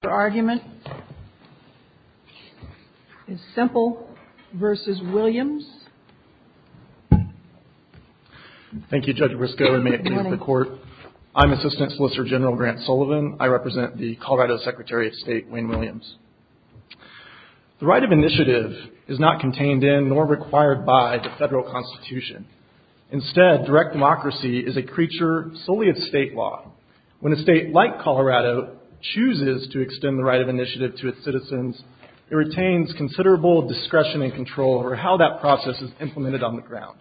Thank you Judge Briscoe, and may it please the Court, I'm Assistant Solicitor General Grant Sullivan. I represent the Colorado Secretary of State, Wayne Williams. The right of initiative is not contained in, nor required by, the federal Constitution. Instead, direct democracy is a creature solely of state law. When a state like Colorado chooses to extend the right of initiative to its citizens, it retains considerable discretion and control over how that process is implemented on the ground.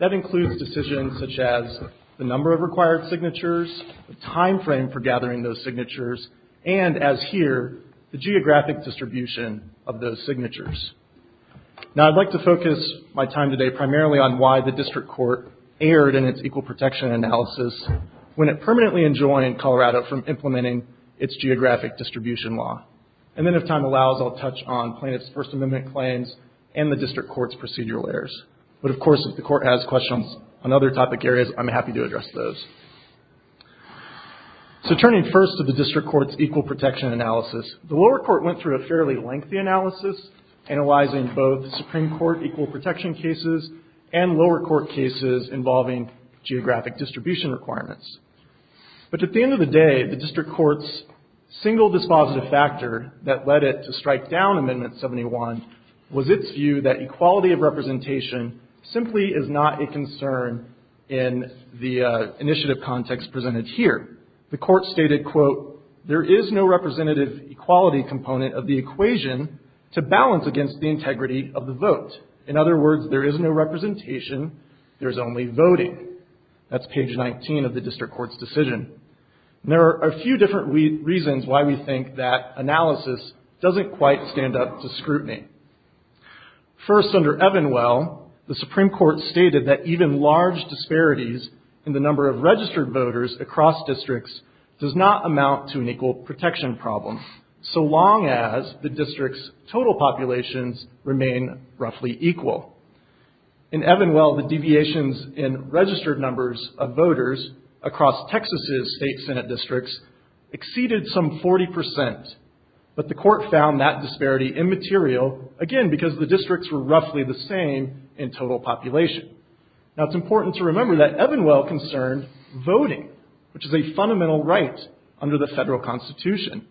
That includes decisions such as the number of required signatures, the time frame for gathering those signatures, and, as here, the geographic distribution of those signatures. Now I'd like to focus my time today primarily on why the District Court erred in its equal protection analysis when it permanently enjoined Colorado from implementing its geographic distribution law. And then, if time allows, I'll touch on plaintiff's First Amendment claims and the District Court's procedural errors. But, of course, if the Court has questions on other topic areas, I'm happy to address those. So turning first to the District Court's equal protection analysis, the lower court went through a fairly lengthy analysis, analyzing both Supreme Court equal protection cases and lower court cases involving geographic distribution requirements. But at the end of the day, the District Court's single dispositive factor that led it to strike down Amendment 71 was its view that equality of representation simply is not a concern in the initiative context presented here. The Court stated, quote, there is no representative equality component of the equation to balance against the integrity of the vote. In other words, there is no representation, there's only voting. That's page 19 of the District Court's decision. There are a few different reasons why we think that analysis doesn't quite stand up to scrutiny. First under Evanwell, the Supreme Court stated that even large disparities in the number of registered voters across districts does not amount to an equal protection problem, so long as the district's total populations remain roughly equal. In Evanwell, the deviations in registered numbers of voters across Texas' state senate districts exceeded some 40 percent, but the court found that disparity immaterial, again, because the districts were roughly the same in total population. Now it's important to remember that Evanwell concerned voting, which is a fundamental right under the federal constitution.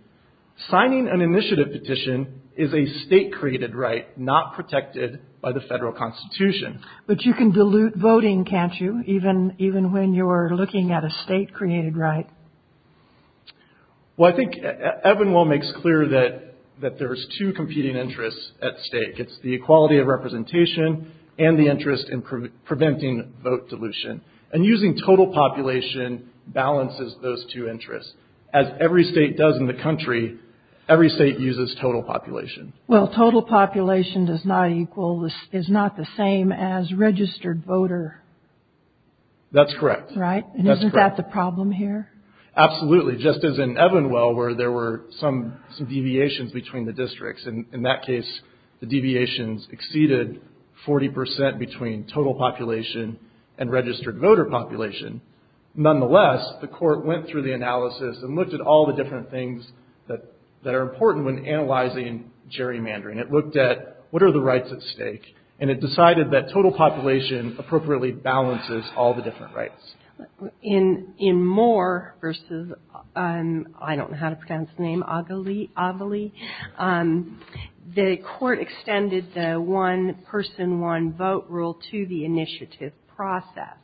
Signing an initiative petition is a state-created right not protected by the federal constitution. But you can dilute voting, can't you, even when you're looking at a state-created right? Well, I think Evanwell makes clear that there's two competing interests at stake. It's the equality of representation and the interest in preventing vote dilution. And using total population balances those two interests. As every state does in the country, every state uses total population. Well, total population is not the same as registered voter. That's correct. Right? And isn't that the problem here? Absolutely. Just as in Evanwell, where there were some deviations between the districts. In that case, the deviations exceeded 40 percent between total population and registered voter population. Nonetheless, the court went through the analysis and looked at all the different things that are important when analyzing gerrymandering. It looked at what are the rights at stake, and it decided that total population appropriately balances all the different rights. In Moore versus, I don't know how to pronounce the name, Ovilee, the court extended the one person, one vote rule to the initiative process.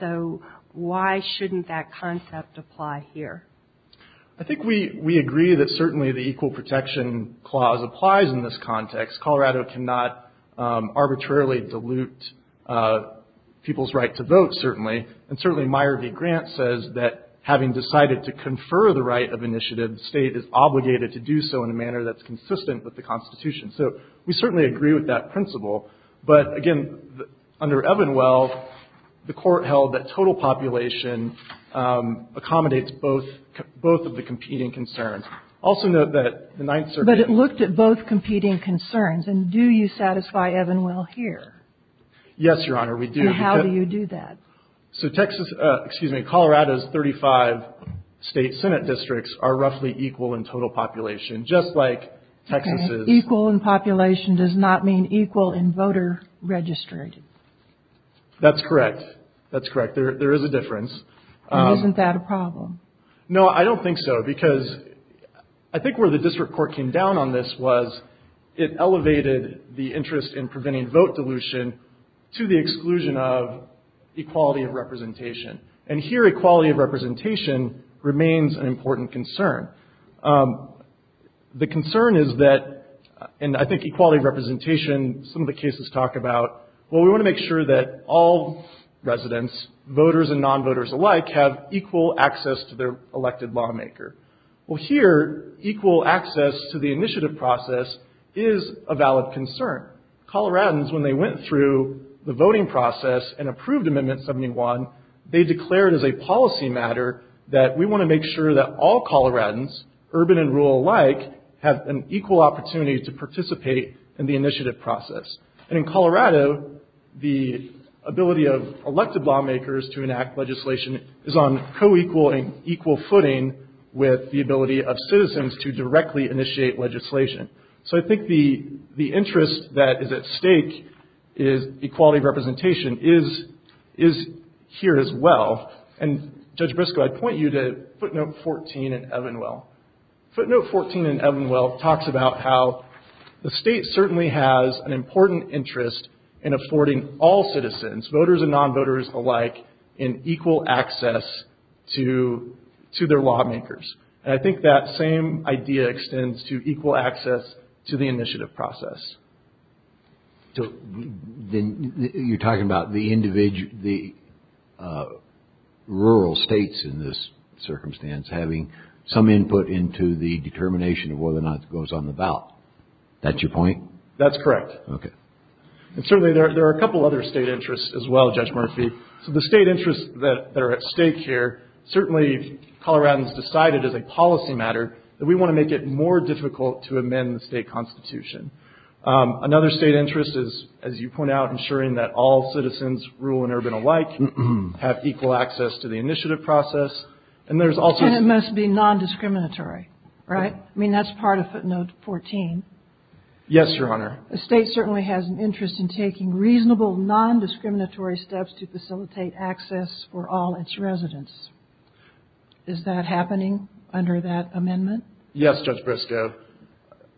So why shouldn't that concept apply here? I think we agree that certainly the equal protection clause applies in this context. Colorado cannot arbitrarily dilute people's right to vote, certainly. And certainly Meyer v. Grant says that having decided to confer the right of initiative, the state is obligated to do so in a manner that's consistent with the Constitution. So we certainly agree with that principle. But, again, under Evanwell, the court held that total population accommodates both of the competing concerns. Also note that the Ninth Circuit... But it looked at both competing concerns. And do you satisfy Evanwell here? Yes, Your Honor, we do. And how do you do that? So Texas, excuse me, Colorado's 35 state Senate districts are roughly equal in total population, just like Texas is. Equal in population does not mean equal in voter registry. That's correct. That's correct. There is a difference. Isn't that a problem? No, I don't think so, because I think where the district court came down on this was it elevated the interest in preventing vote dilution to the exclusion of equality of representation. And here equality of representation remains an important concern. The concern is that and I think equality of representation, some of the cases talk about, well we want to make sure that all residents, voters and non-voters alike, have equal access to their elected lawmaker. Well here, equal access to the initiative process is a valid concern. Coloradans, when they went through the voting process and approved Amendment 71, they declared as a policy matter that we want to make sure that all Coloradans, urban and rural alike, have an equal opportunity to participate in the initiative process. And in Colorado, the ability of elected lawmakers to enact legislation is on co-equal and equal footing with the ability of citizens to directly initiate legislation. So I think the interest that is at stake is equality of representation is here as well. And Judge Briscoe, I'd point you to footnote 14 in Evanwell. Footnote 14 in Evanwell talks about how the state certainly has an important interest in affording all citizens, voters and non-voters alike, an equal access to their lawmakers. And I think that same idea extends to equal access to the initiative process. You're talking about the rural states in this circumstance having some input into the determination of whether or not it goes on the ballot. Is that your point? That's correct. And certainly there are a couple other state interests as well, Judge Murphy. So the state interests that are at stake here, certainly Coloradans decided as a policy matter that we want to make it more difficult to amend the state constitution. Another state interest is, as you point out, ensuring that all citizens, rural and urban alike, have equal access to the initiative process. And it must be non-discriminatory, right? I mean, that's part of footnote 14. Yes, Your Honor. The state certainly has an interest in taking reasonable, non-discriminatory steps to facilitate access for all its residents. Is that happening under that amendment? Yes, Judge Briscoe.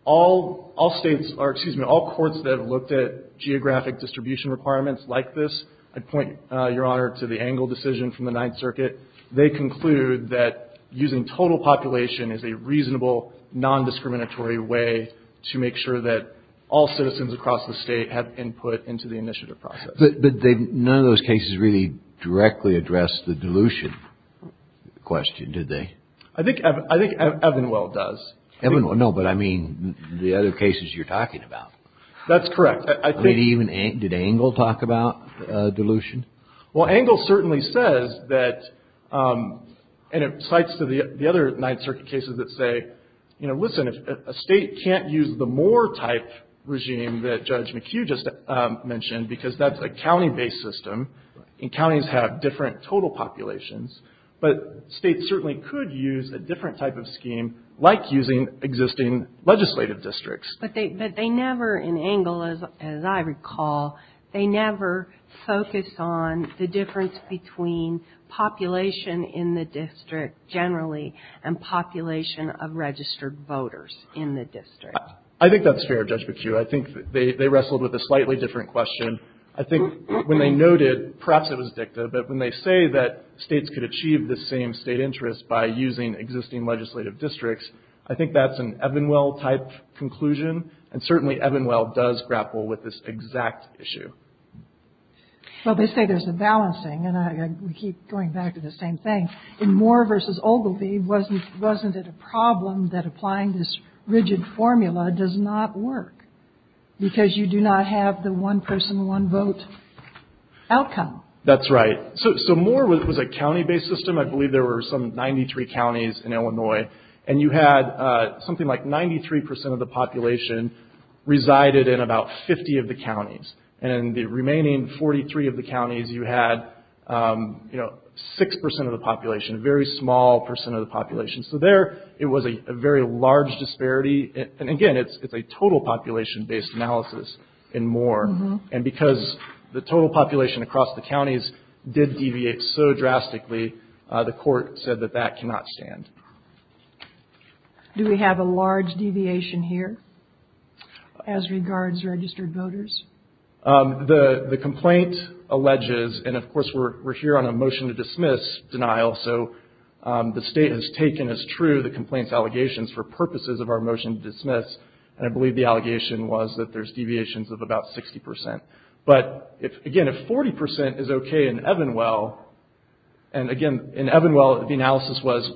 All states, or excuse me, all courts that have looked at geographic distribution requirements like this, I'd point, Your Honor, to the Engle decision from the Engle case. They concluded that using total population is a reasonable, non-discriminatory way to make sure that all citizens across the state have input into the initiative process. But none of those cases really directly addressed the dilution question, did they? I think Evanwell does. Evanwell, no, but I mean the other cases you're talking about. That's correct. I mean, did Engle talk about dilution? Well, Engle certainly says that, and it cites the other Ninth Circuit cases that say, you know, listen, a state can't use the Moore type regime that Judge McHugh just mentioned because that's a county-based system and counties have different total populations. But states certainly could use a different type of scheme like using existing legislative districts. But they never, in Engle, as I recall, they never focused on the difference between population in the district generally and population of registered voters in the district. I think that's fair, Judge McHugh. I think they wrestled with a slightly different question. I think when they noted, perhaps it was dicta, but when they say that states could achieve the same state interest by using existing legislative districts, I think that's an Evanwell-type conclusion, and certainly Evanwell does grapple with this exact issue. Well, they say there's a balancing, and we keep going back to the same thing. In Moore versus Ogilvie, wasn't it a problem that applying this rigid formula does not work because you do not have the one-person, one-vote outcome? That's right. So Moore was a county-based system. I believe there were some 93 counties in Illinois, and you had something like 93 percent of the population resided in about 50 of the counties. And the remaining 43 of the counties, you had 6 percent of the population, a very small percent of the population. So there, it was a very large disparity. And again, it's a total population-based analysis in Moore. And because the total population across the counties did deviate so drastically, the court said that that cannot stand. Do we have a large deviation here as regards registered voters? The complaint alleges, and of course we're here on a motion to dismiss denial, so the state has taken as true the complaint's allegations for purposes of our motion to dismiss, and I believe the allegation was that there's deviations of about 60 percent. But again, if 40 percent is okay in Evanwell, and again, in Evanwell, the analysis was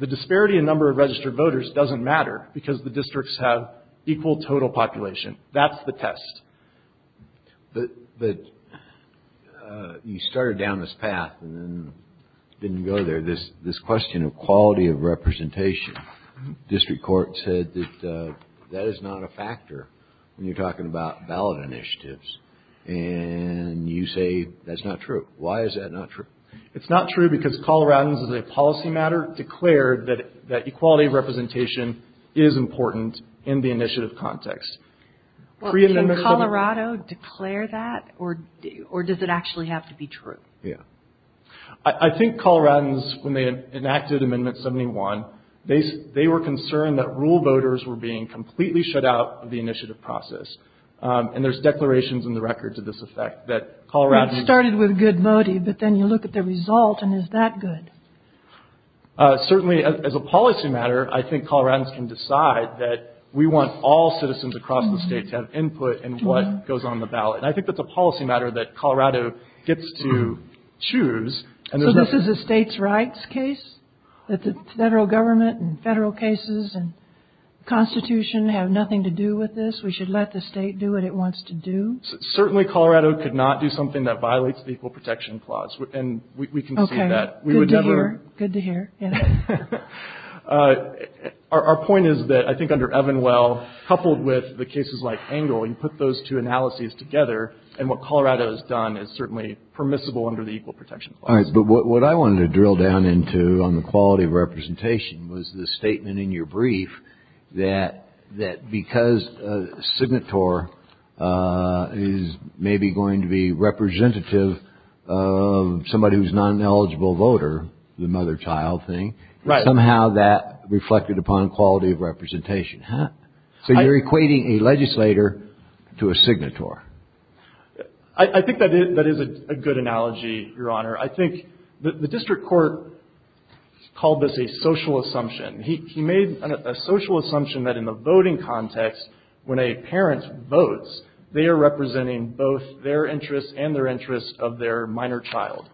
the disparity in number of registered voters doesn't matter because the districts have equal total population. That's the test. But you started down this path and then didn't go there. This question of quality of representation, district court said that that is not a factor when you're talking about ballot initiatives. And you say that's not true. Why is that not true? It's not true because Coloradans, as a policy matter, declared that equality of representation is important in the initiative context. Well, can Colorado declare that, or does it actually have to be true? I think Coloradans, when they enacted Amendment 71, they were concerned that rural voters were being completely shut out of the initiative process. And there's declarations in the record to this effect that Colorado... It started with good voting, but then you look at the result, and is that good? Certainly as a policy matter, I think Coloradans can decide that we want all citizens across the state to have input in what goes on the ballot. And I think that's a policy matter that Colorado gets to choose. So this is a state's rights case? That the federal government and federal cases and Constitution have nothing to do with this? We should let the state do what it wants to do? Certainly Colorado could not do something that violates the Equal Protection Clause. And we can see that. Good to hear. Good to hear. Our point is that I think under Evanwell, coupled with the cases like Engle, you put those two analyses together, and what Colorado has done is certainly permissible under the Equal Protection Clause. All right, but what I wanted to drill down into on the quality of representation was the statement in your brief that because a signator is maybe going to be representative of somebody who's not an eligible voter, the mother-child thing, somehow that reflected upon quality of representation. So you're equating a legislator to a signator. I think that is a good analogy, Your Honor. I think the district court called this a social assumption. He made a social assumption that in the voting context, when a parent votes, they are representing both their interests and their interests of their minor child.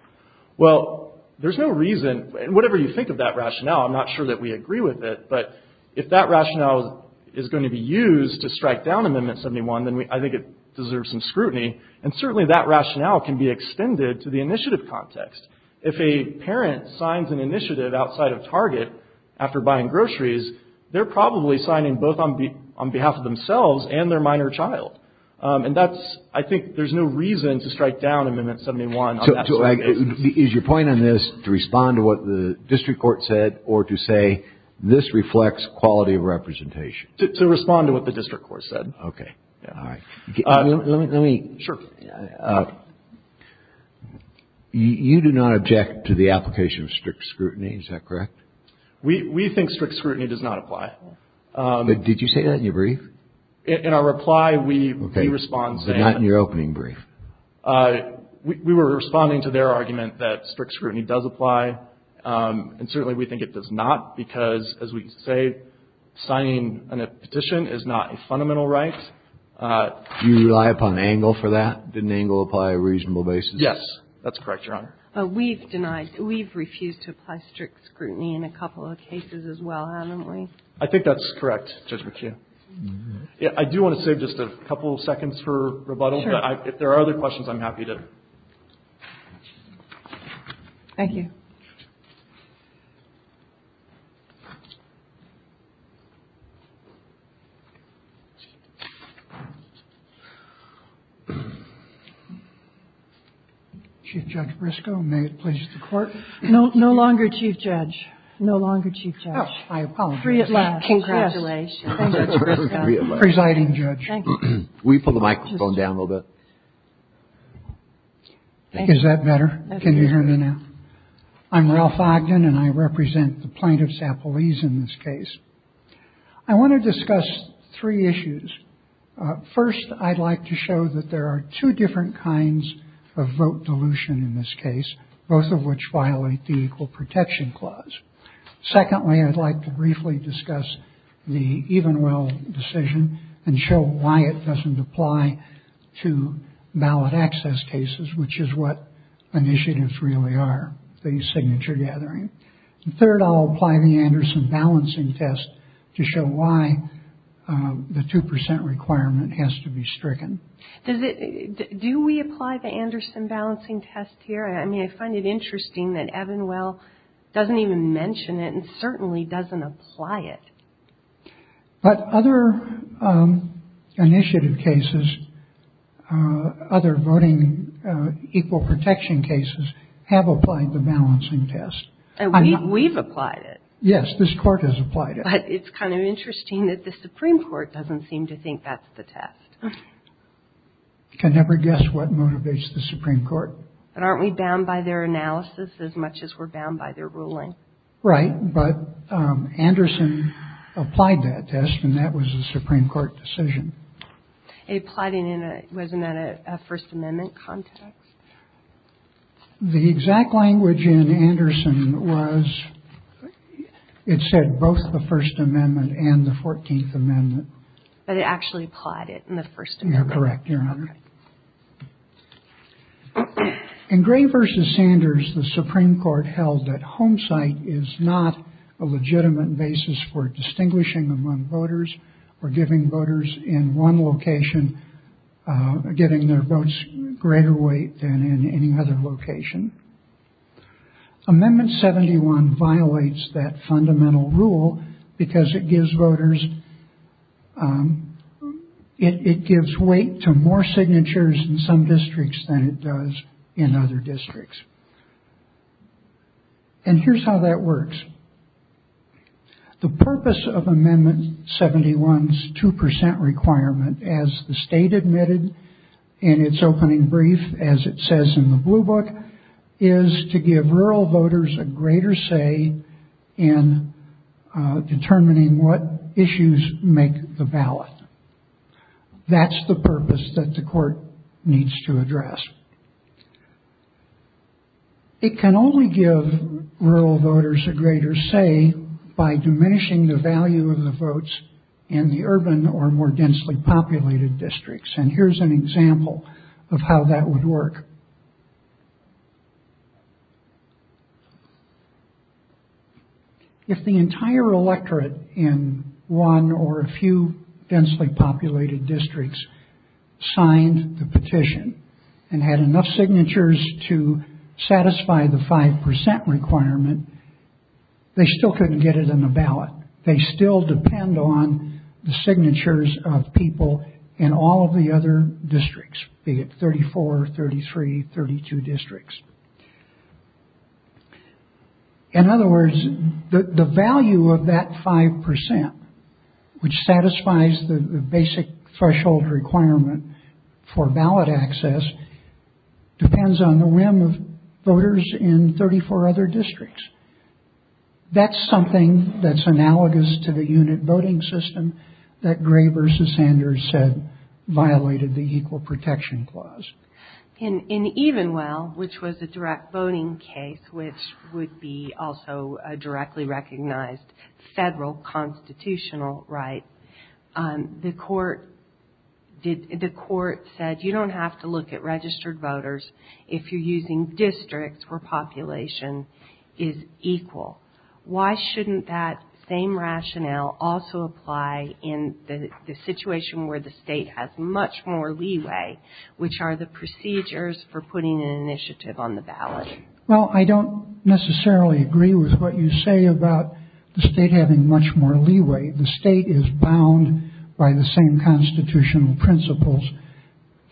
Well, there's no reason, and whatever you think of that rationale, I'm not sure that we agree with it, but if that rationale is going to be used to strike down Amendment 71, then I think it deserves some scrutiny. And certainly that rationale can be extended to the initiative context. If a parent signs an initiative outside of Target after buying groceries, they're probably signing both on behalf of themselves and their minor child. And I think there's no reason to strike down Amendment 71 on that subject. Is your point on this to respond to what the district court said or to say, this reflects quality of representation? To respond to what the district court said. Okay. All right. You do not object to the application of strict scrutiny, is that correct? We think strict scrutiny does not apply. Did you say that in your brief? In our reply, we respond saying... Okay, but not in your opening brief. We were responding to their argument that strict scrutiny does apply, and certainly we think it does not because, as we say, signing a petition is not a fundamental right. Do you rely upon angle for that? Did an angle apply a reasonable basis? Yes. That's correct, Your Honor. We've denied, we've refused to apply strict scrutiny in a couple of cases as well, haven't we? I think that's correct, Judge McHugh. I do want to save just a couple of seconds for rebuttals, but if there are other questions, I'm happy to... Thank you. Chief Judge Briscoe, may it please the Court? No longer, Chief Judge. No longer, Chief Judge. Oh, I apologize. Free at last. Congratulations. Thank you, Chief Judge Briscoe. Free at last. Thank you, Chief Judge. Can we pull the microphone down a little bit? Is that better? Can you hear me now? I'm Ralph Ogden, and I represent the plaintiffs' appellees in this case. I want to discuss three issues. First, I'd like to show that there are two different kinds of vote dilution in this case, both of which violate the Equal Decision and show why it doesn't apply to ballot access cases, which is what initiatives really are, the signature gathering. And third, I'll apply the Anderson Balancing Test to show why the 2 percent requirement has to be stricken. Do we apply the Anderson Balancing Test here? I mean, I find it interesting that Evanwell doesn't even mention it and certainly doesn't apply it. But other initiative cases, other voting equal protection cases, have applied the balancing test. And we've applied it. Yes, this Court has applied it. But it's kind of interesting that the Supreme Court doesn't seem to think that's the test. You can never guess what motivates the Supreme Court. But aren't we bound by their analysis as much as we're bound by their ruling? Right. But Anderson applied that test and that was a Supreme Court decision. It applied in a, wasn't that a First Amendment context? The exact language in Anderson was, it said both the First Amendment and the 14th Amendment. But it actually applied it in the First Amendment. You're correct, Your Honor. In Gray v. Sanders, the Supreme Court held that homesight is not a legitimate basis for distinguishing among voters or giving voters in one location, giving their votes greater weight than in any other location. Amendment 71 violates that fundamental rule because it gives voters, it gives weight to more signatures in some districts than it does in other districts. And here's how that works. The purpose of Amendment 71's 2 percent requirement, as the state admitted in its opening brief, as it says in the blue book, is to give rural voters a greater say in determining what issues make the ballot. That's the purpose that the court needs to address. It can only give rural voters a greater say by diminishing the value of the votes in the urban or more densely populated districts. And here's an example of how that would work. If the entire electorate in one or a few densely populated districts signed the petition and had enough signatures to satisfy the 5 percent requirement, they still couldn't get it in the ballot. They still depend on the signatures of people in all of the other districts, be it 34, 33, 32 districts. In other words, the value of that 5 percent, which satisfies the basic threshold requirement for ballot access, depends on the whim of voters in 34 other districts. That's something that's analogous to the unit voting system that Gray versus Sanders said violated the Equal Protection Clause. In Evenwell, which was a direct voting case, which would be also a directly recognized federal constitutional right, the court said you don't have to look at registered voters if you're using districts where population is equal. Why shouldn't that same rationale also apply in the situation where the state has much more leeway, which are the procedures for putting an initiative on the ballot? Well, I don't necessarily agree with what you say about the state having much more leeway. The state is bound by the same constitutional principles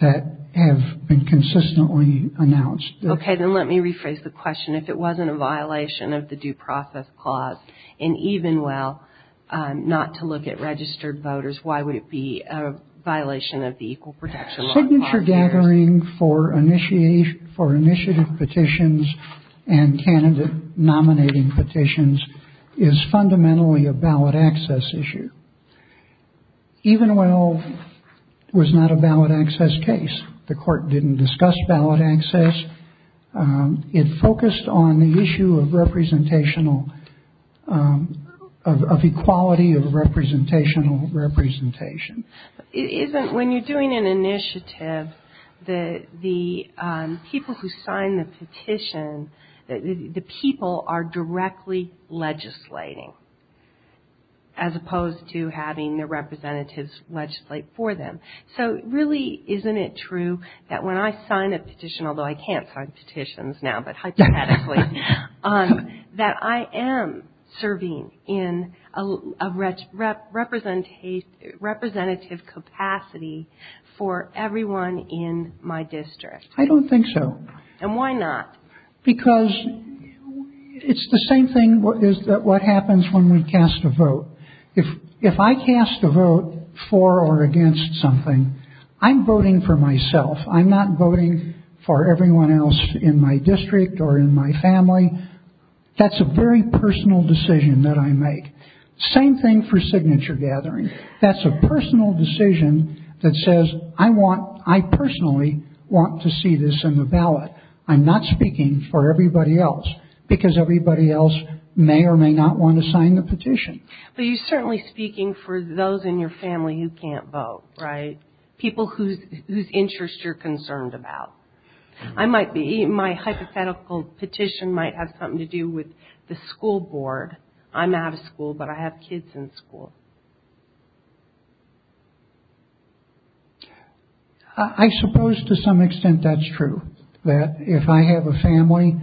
that have been consistently announced. OK, then let me rephrase the question. If it wasn't a violation of the Due Process Clause in Evenwell, not to look at registered voters, why would it be a violation of the Equal Protection Law? Signature gathering for initiative petitions and candidate nominating petitions is fundamentally a ballot access issue. Evenwell was not a ballot access case. The court didn't discuss ballot access. It focused on the issue of representational, of equality of representational representation. It isn't when you're doing an initiative that the people who sign the petition, the people are directly legislating as opposed to having their representatives legislate for them. So really, isn't it true that when I sign a petition, although I can't sign petitions now, but hypothetically, that I am serving in a representative capacity for everyone in my district? I don't think so. And why not? Because it's the same thing is that what happens when we cast a vote. If I cast a vote for or against something, I'm voting for myself. I'm not voting for everyone else in my district or in my family. That's a very personal decision that I make. Same thing for signature gathering. That's a personal decision that says, I want, I personally want to see this in the ballot. I'm not speaking for everybody else because everybody else may or may not want to sign the petition. But you're certainly speaking for those in your family who can't vote, right? People whose interests you're concerned about. I might be, my hypothetical petition might have something to do with the school board. I'm out of school, but I have kids in school. I suppose to some extent that's true, that if I have a family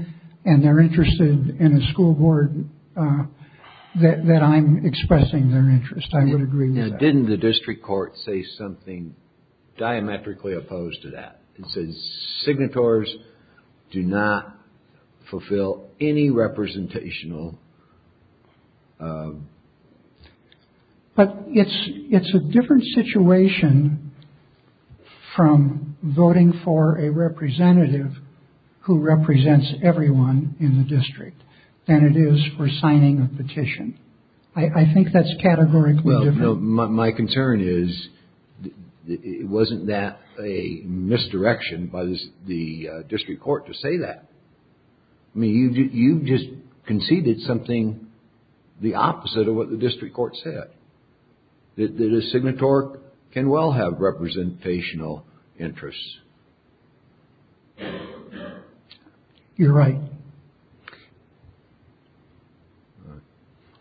and they're interested in a petition, I'm expressing their interest. I would agree with that. Didn't the district court say something diametrically opposed to that? It says signatories do not fulfill any representational... But it's a different situation from voting for a representative who represents I think that's categorically different. Well, my concern is, it wasn't that a misdirection by the district court to say that. I mean, you just conceded something the opposite of what the district court said. That a signatory can well have representational interests. You're right.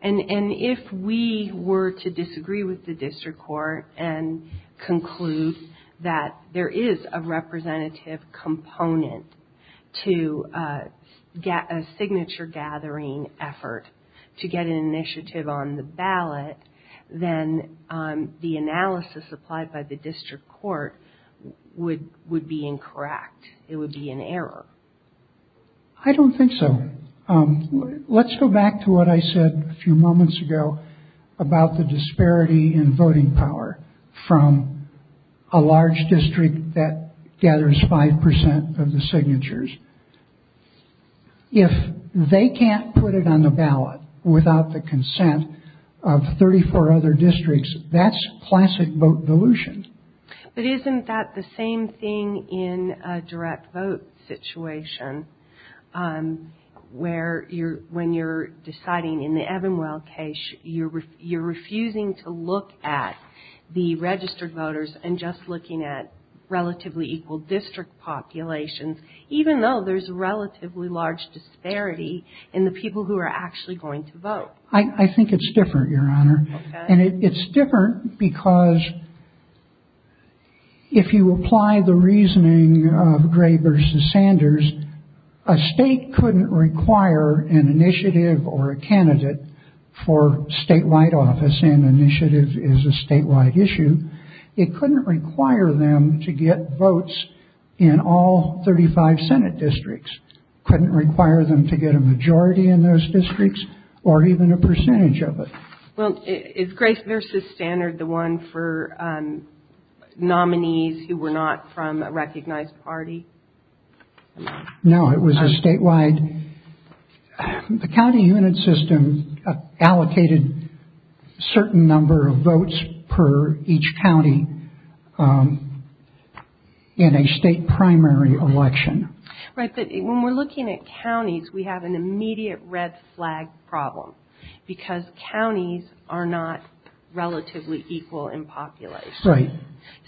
And if we were to disagree with the district court and conclude that there is a representative component to get a signature gathering effort to get an initiative on the ballot, then the analysis applied by the district court would be incorrect. It would be an error. I don't think so. Let's go back to what I said a few moments ago about the disparity in voting power from a large district that gathers 5% of the signatures. If they can't put it on the ballot without the consent of 34 other districts, that's classic vote dilution. But isn't that the same thing in a direct vote situation? Where you're, when you're deciding in the Evanwell case, you're, you're refusing to look at the registered voters and just looking at relatively equal district populations, even though there's relatively large disparity in the people who are actually going to vote. I think it's different, Your Honor. And it's different because if you apply the reasoning of Gray versus Sanders, a state couldn't require an initiative or a candidate for statewide office and initiative is a statewide issue. It couldn't require them to get votes in all 35 Senate districts, couldn't require them to get a majority in those districts or even a percentage of it. Well, is Gray versus Sanders the one for nominees who were not from a recognized party? No, it was a statewide, the county unit system allocated certain number of votes per each county in a state primary election. Right, but when we're looking at counties, we have an immediate red flag problem because counties are not relatively equal in population. Right.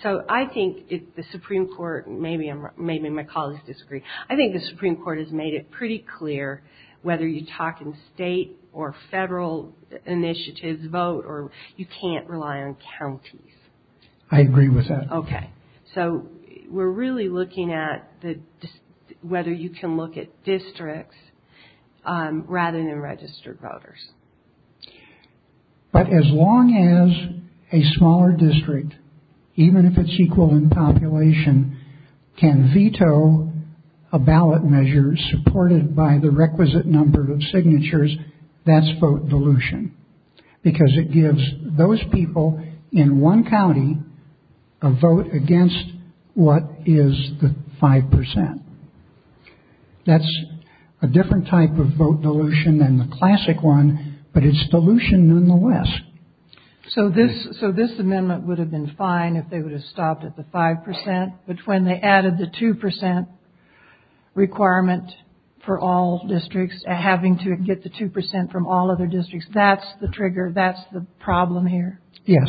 So I think the Supreme Court, maybe my colleagues disagree, I think the Supreme Court has made it pretty clear whether you talk in state or federal initiatives, vote or you can't rely on counties. I agree with that. Okay. So we're really looking at whether you can look at districts rather than registered voters. But as long as a smaller district, even if it's equal in population, can veto a ballot measure supported by the requisite number of signatures, that's vote dilution because it gives those people in one county a vote against what is the 5 percent. That's a different type of vote dilution than the classic one, but it's dilution nonetheless. So this amendment would have been fine if they would have stopped at the 5 percent. But when they added the 2 percent requirement for all districts, having to get the 2 percent from all other districts, that's the trigger, that's the problem here? Yes.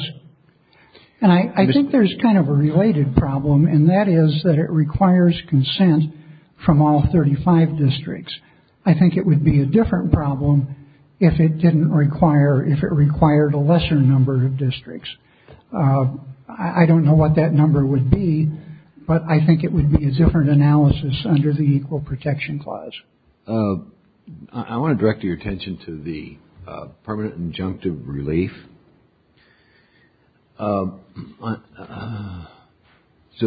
And I think there's kind of a related problem and that is that it requires consent from all 35 districts. I think it would be a different problem if it didn't require, if it required a lesser number of districts. I don't know what that number would be, but I think it would be a different analysis under the Equal Protection Clause. I want to direct your attention to the permanent injunctive relief. So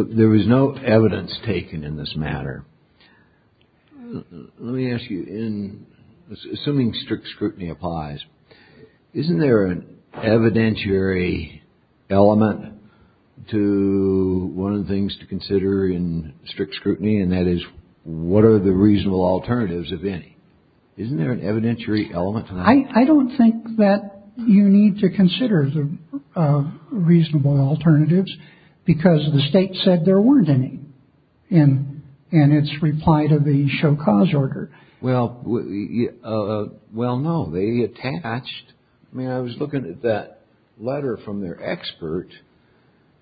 there was no evidence taken in this matter. Let me ask you, assuming strict scrutiny applies, isn't there an evidentiary element to one of the things to consider in strict scrutiny? And that is, what are the reasonable alternatives, if any? I don't think that you need to consider the reasonable alternatives because the state said there weren't any in its reply to the Show Cause order. Well, well, no, they attached. I mean, I was looking at that letter from their expert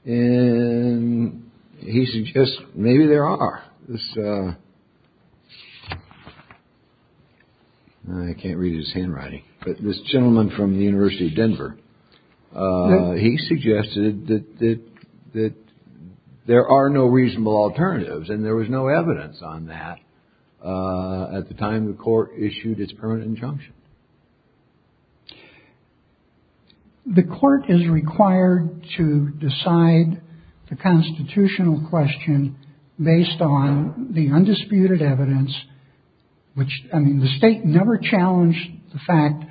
and he suggests maybe there are this. I can't read his handwriting, but this gentleman from the University of Denver, he suggested that there are no reasonable alternatives and there was no evidence on that at the time the court issued its permanent injunction. The court is required to decide the constitutional question based on the undisputed evidence, which I mean, the state never challenged the fact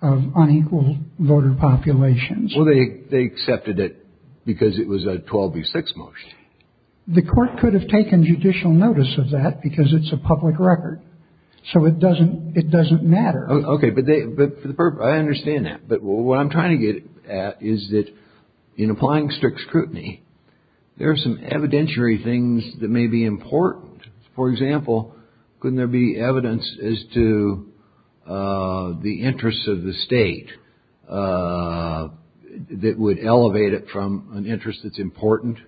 of unequal voter populations. Well, they they accepted it because it was a 12 v. 6 motion. The court could have taken judicial notice of that because it's a public record. So it doesn't it doesn't matter. OK, but I understand that. But what I'm trying to get at is that in applying strict scrutiny, there are some evidentiary things that may be important. For example, couldn't there be evidence as to the interests of the state that would elevate it from an interest that's important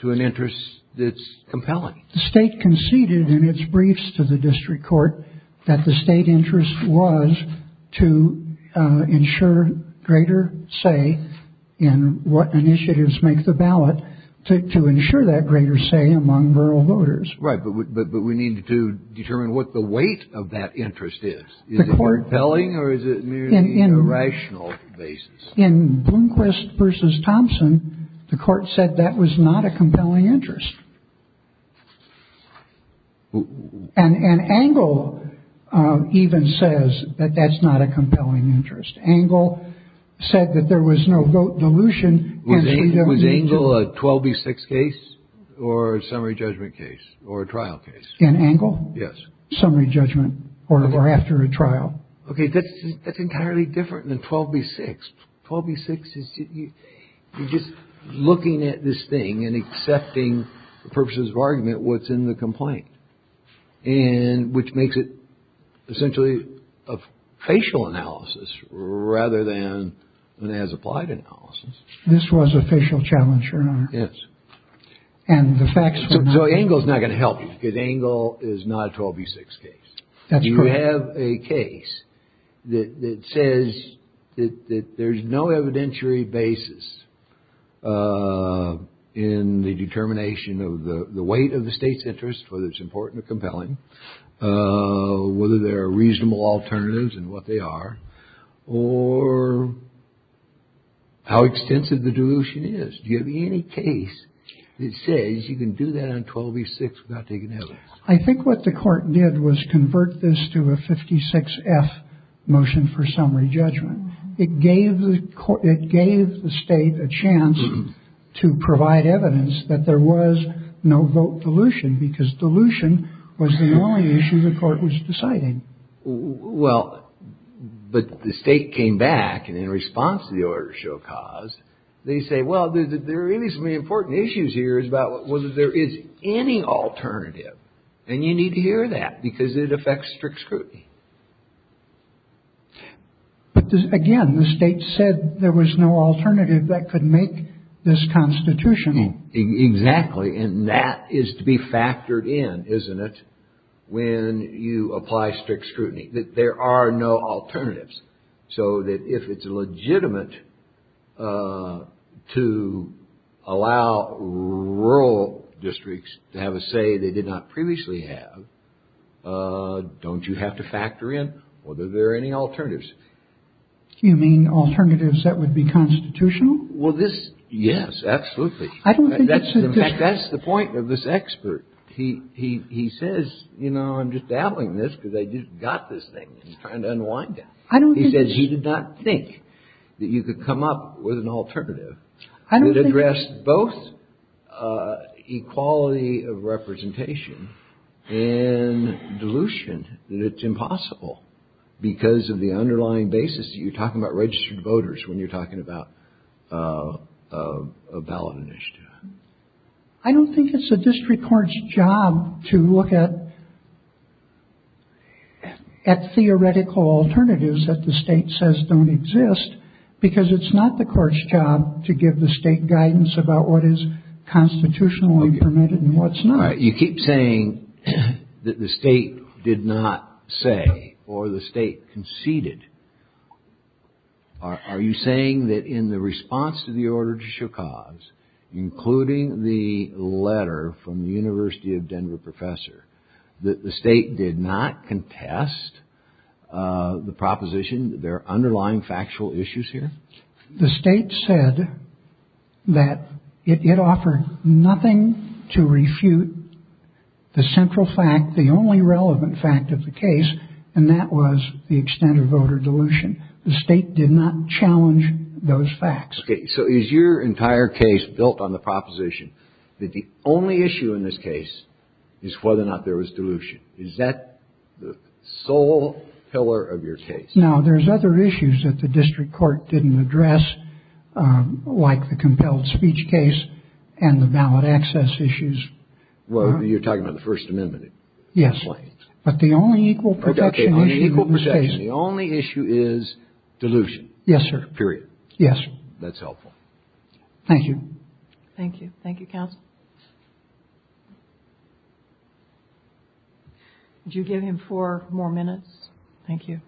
to an interest that's compelling? The state conceded in its briefs to the district court that the state interest was to ensure greater say in what initiatives make the ballot to ensure that greater say among rural voters. Right. But we need to determine what the weight of that interest is. Is it compelling or is it merely a rational basis? In Blomquist versus Thompson, the court said that was not a compelling interest. And an angle even says that that's not a compelling interest. Angle said that there was no vote dilution. And he was angle a 12 v. 6 case or a summary judgment case or a trial case. An angle. Yes. Summary judgment or after a trial. OK, that's that's entirely different than 12 v. 6. 12 v. 6. You're just looking at this thing and accepting the purposes of argument what's in the complaint and which makes it essentially a facial analysis rather than an as applied analysis. This was a facial challenge, Your Honor. Yes. And the facts. So angle is not going to help you because angle is not a 12 v. 6 case. You have a case that says that there's no evidentiary basis in the determination of the weight of the state's interest, whether it's important or compelling, whether there are reasonable alternatives and what they are or how extensive the dilution is. Do you have any case that says you can do that on 12 v. 6 without taking evidence? I think what the court did was convert this to a 56 F motion for summary judgment. It gave the court it gave the state a chance to provide evidence that there was no vote dilution because dilution was the only issue the court was deciding. Well, but the state came back and in response to the order show cause they say, well, there are really some important issues here is about whether there is any alternative. And you need to hear that because it affects strict scrutiny. But again, the state said there was no alternative that could make this constitutional. Exactly. And that is to be factored in, isn't it, when you apply strict scrutiny, that there are no alternatives. So that if it's legitimate to allow rural districts to have a say they did not previously have, don't you have to factor in whether there are any alternatives. You mean alternatives that would be constitutional? Well, this. Yes, absolutely. I don't think that's the point of this expert. He he he says, you know, I'm just dabbling in this because I just got this thing and trying to unwind. I don't think he did not think that you could come up with an alternative. I don't think. It addressed both equality of representation and dilution. That it's impossible because of the underlying basis. You're talking about registered voters when you're talking about a ballot initiative. I don't think it's a district court's job to look at. At theoretical alternatives that the state says don't exist, because it's not the court's job to give the state guidance about what is constitutionally permitted and what's not. You keep saying that the state did not say or the state conceded. Are you saying that in the response to the order to Shokas, including the letter from the University of Denver professor, that the state did not contest the proposition that there are underlying factual issues here? The state said that it offered nothing to refute the central fact, the only relevant fact of the case, and that was the extent of voter dilution. The state did not challenge those facts. So is your entire case built on the proposition that the only issue in this case is whether or not there was dilution? Is that the sole pillar of your case? No, there's other issues that the district court didn't address, like the compelled speech case and the ballot access issues. Well, you're talking about the First Amendment. Yes, but the only equal protection issue in this case. The only issue is dilution. Yes, sir. Period. Yes. That's helpful. Thank you. Thank you. Thank you, counsel. Would you give him four more minutes? Thank you.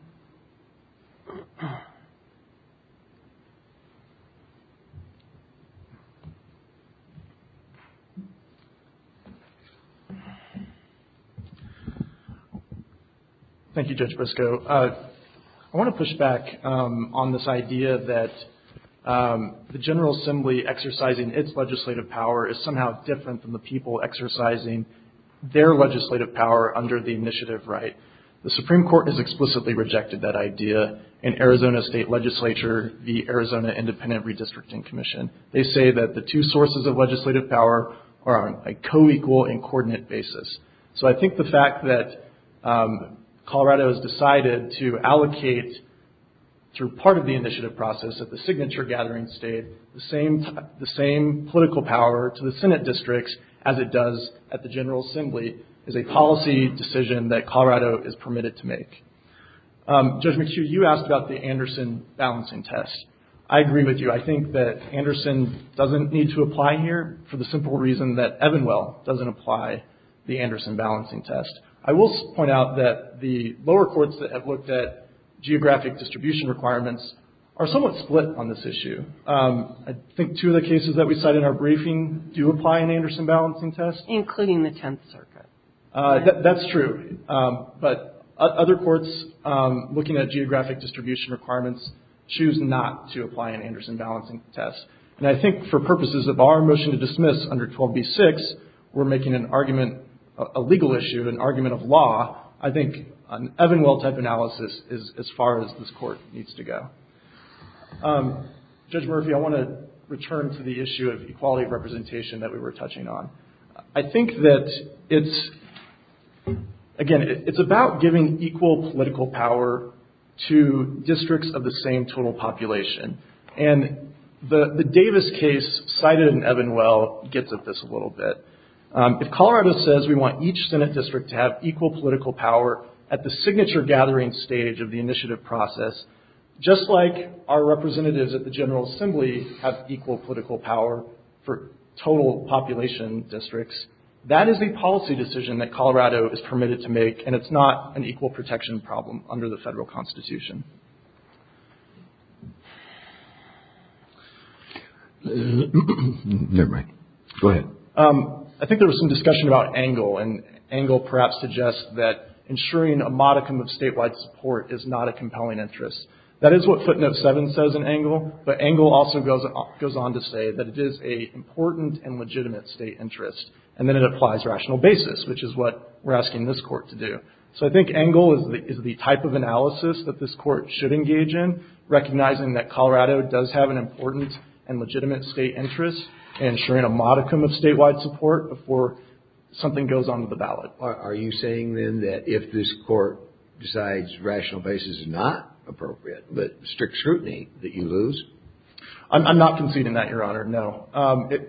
Thank you, Judge Briscoe. I want to push back on this idea that the General Assembly exercising its legislative power is somehow different from the people exercising their legislative power under the initiative right. The Supreme Court has explicitly rejected that idea in Arizona State Legislature, the Arizona Independent Redistricting Commission. They say that the two sources of legislative power are on a co-equal and coordinate basis. So I think the fact that Colorado has decided to allocate, through part of the initiative process at the signature gathering state, the same political power to the Senate districts as it does at the General Assembly is a policy decision that Colorado is permitted to make. Judge McHugh, you asked about the Anderson balancing test. I agree with you. I think that Anderson doesn't need to apply here for the simple reason that Evanwell doesn't apply the Anderson balancing test. I will point out that the lower courts that have looked at geographic distribution requirements are somewhat split on this issue. I think two of the cases that we cite in our briefing do apply an Anderson balancing test. Including the Tenth Circuit. That's true. But other courts looking at geographic distribution requirements choose not to apply an Anderson balancing test. And I think for purposes of our motion to dismiss under 12b-6, we're making an argument, a legal issue, an argument of law, I think an Evanwell type analysis is as far as this court needs to go. Judge Murphy, I want to return to the issue of equality of representation that we were touching on. I think that it's, again, it's about giving equal political power to districts of the same total population. And the Davis case cited in Evanwell gets at this a little bit. If Colorado says we want each Senate district to have equal political power at the signature gathering stage of the initiative process, just like our representatives at the General Assembly have equal political power for total population. districts, that is the policy decision that Colorado is permitted to make. And it's not an equal protection problem under the federal constitution. I think there was some discussion about angle. And angle perhaps suggests that ensuring a modicum of statewide support is not a compelling interest. That is what footnote 7 says in angle. But angle also goes on to say that it is an important and legitimate state interest. And then it applies rational basis, which is what we're asking this court to do. So I think angle is the type of analysis that this court should engage in, recognizing that Colorado does have an important and legitimate state interest, ensuring a modicum of statewide support before something goes on with the ballot. Are you saying, then, that if this court decides rational basis is not appropriate, that strict scrutiny that you lose? I'm not conceding that, Your Honor. No.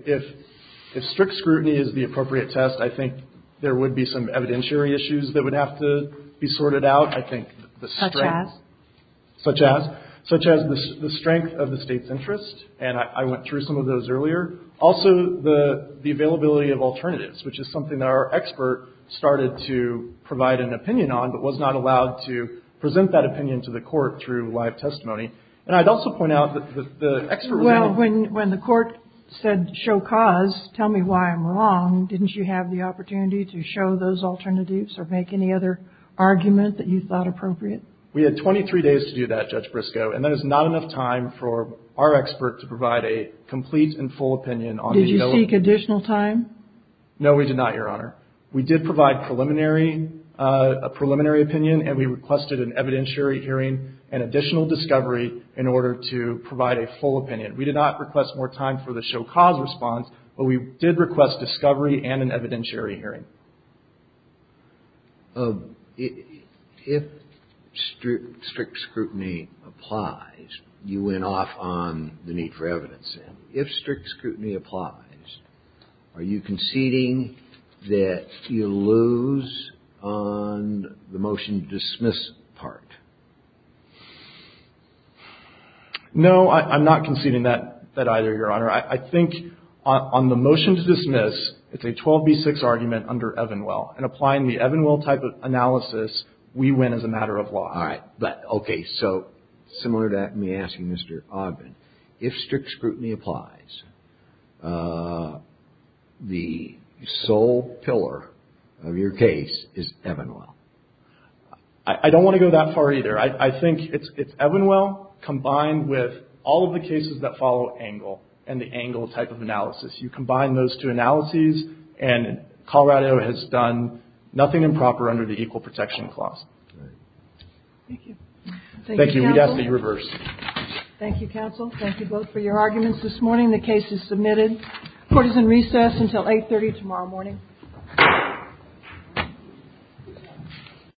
If strict scrutiny is the appropriate test, I think there would be some evidentiary issues that would have to be sorted out. I think the strength. Such as? Such as the strength of the state's interest. And I went through some of those earlier. Also, the availability of alternatives, which is something that our expert started to provide an opinion on, but was not allowed to present that opinion to the court through live testimony. And I'd also point out that the expert. Well, when the court said, show cause, tell me why I'm wrong, didn't you have the opportunity to show those alternatives or make any other argument that you thought appropriate? We had 23 days to do that, Judge Briscoe. And that is not enough time for our expert to provide a complete and full opinion on. Did you seek additional time? No, we did not, Your Honor. We did provide preliminary, a preliminary opinion, and we requested an evidentiary hearing and additional discovery in order to provide a full opinion. We did not request more time for the show cause response, but we did request discovery and an evidentiary hearing. If strict scrutiny applies, you went off on the need for evidence. And if strict scrutiny applies, are you conceding that you lose on the motion to dismiss part? No, I'm not conceding that either, Your Honor. I think on the motion to dismiss, it's a 12B6 argument under Evanwell. And applying the Evanwell type of analysis, we win as a matter of law. All right. But, okay. So similar to that, let me ask you, Mr. Ogden, if strict scrutiny applies, the sole pillar of your case is Evanwell. I don't want to go that far either. I think it's Evanwell combined with all of the cases that follow Engle and the Engle type of analysis. You combine those two analyses, and Colorado has done nothing improper under the Equal Protection Clause. Thank you. Thank you. We'd have to reverse. Thank you, counsel. Thank you both for your arguments this morning. The case is submitted. Court is in recess until 830 tomorrow morning.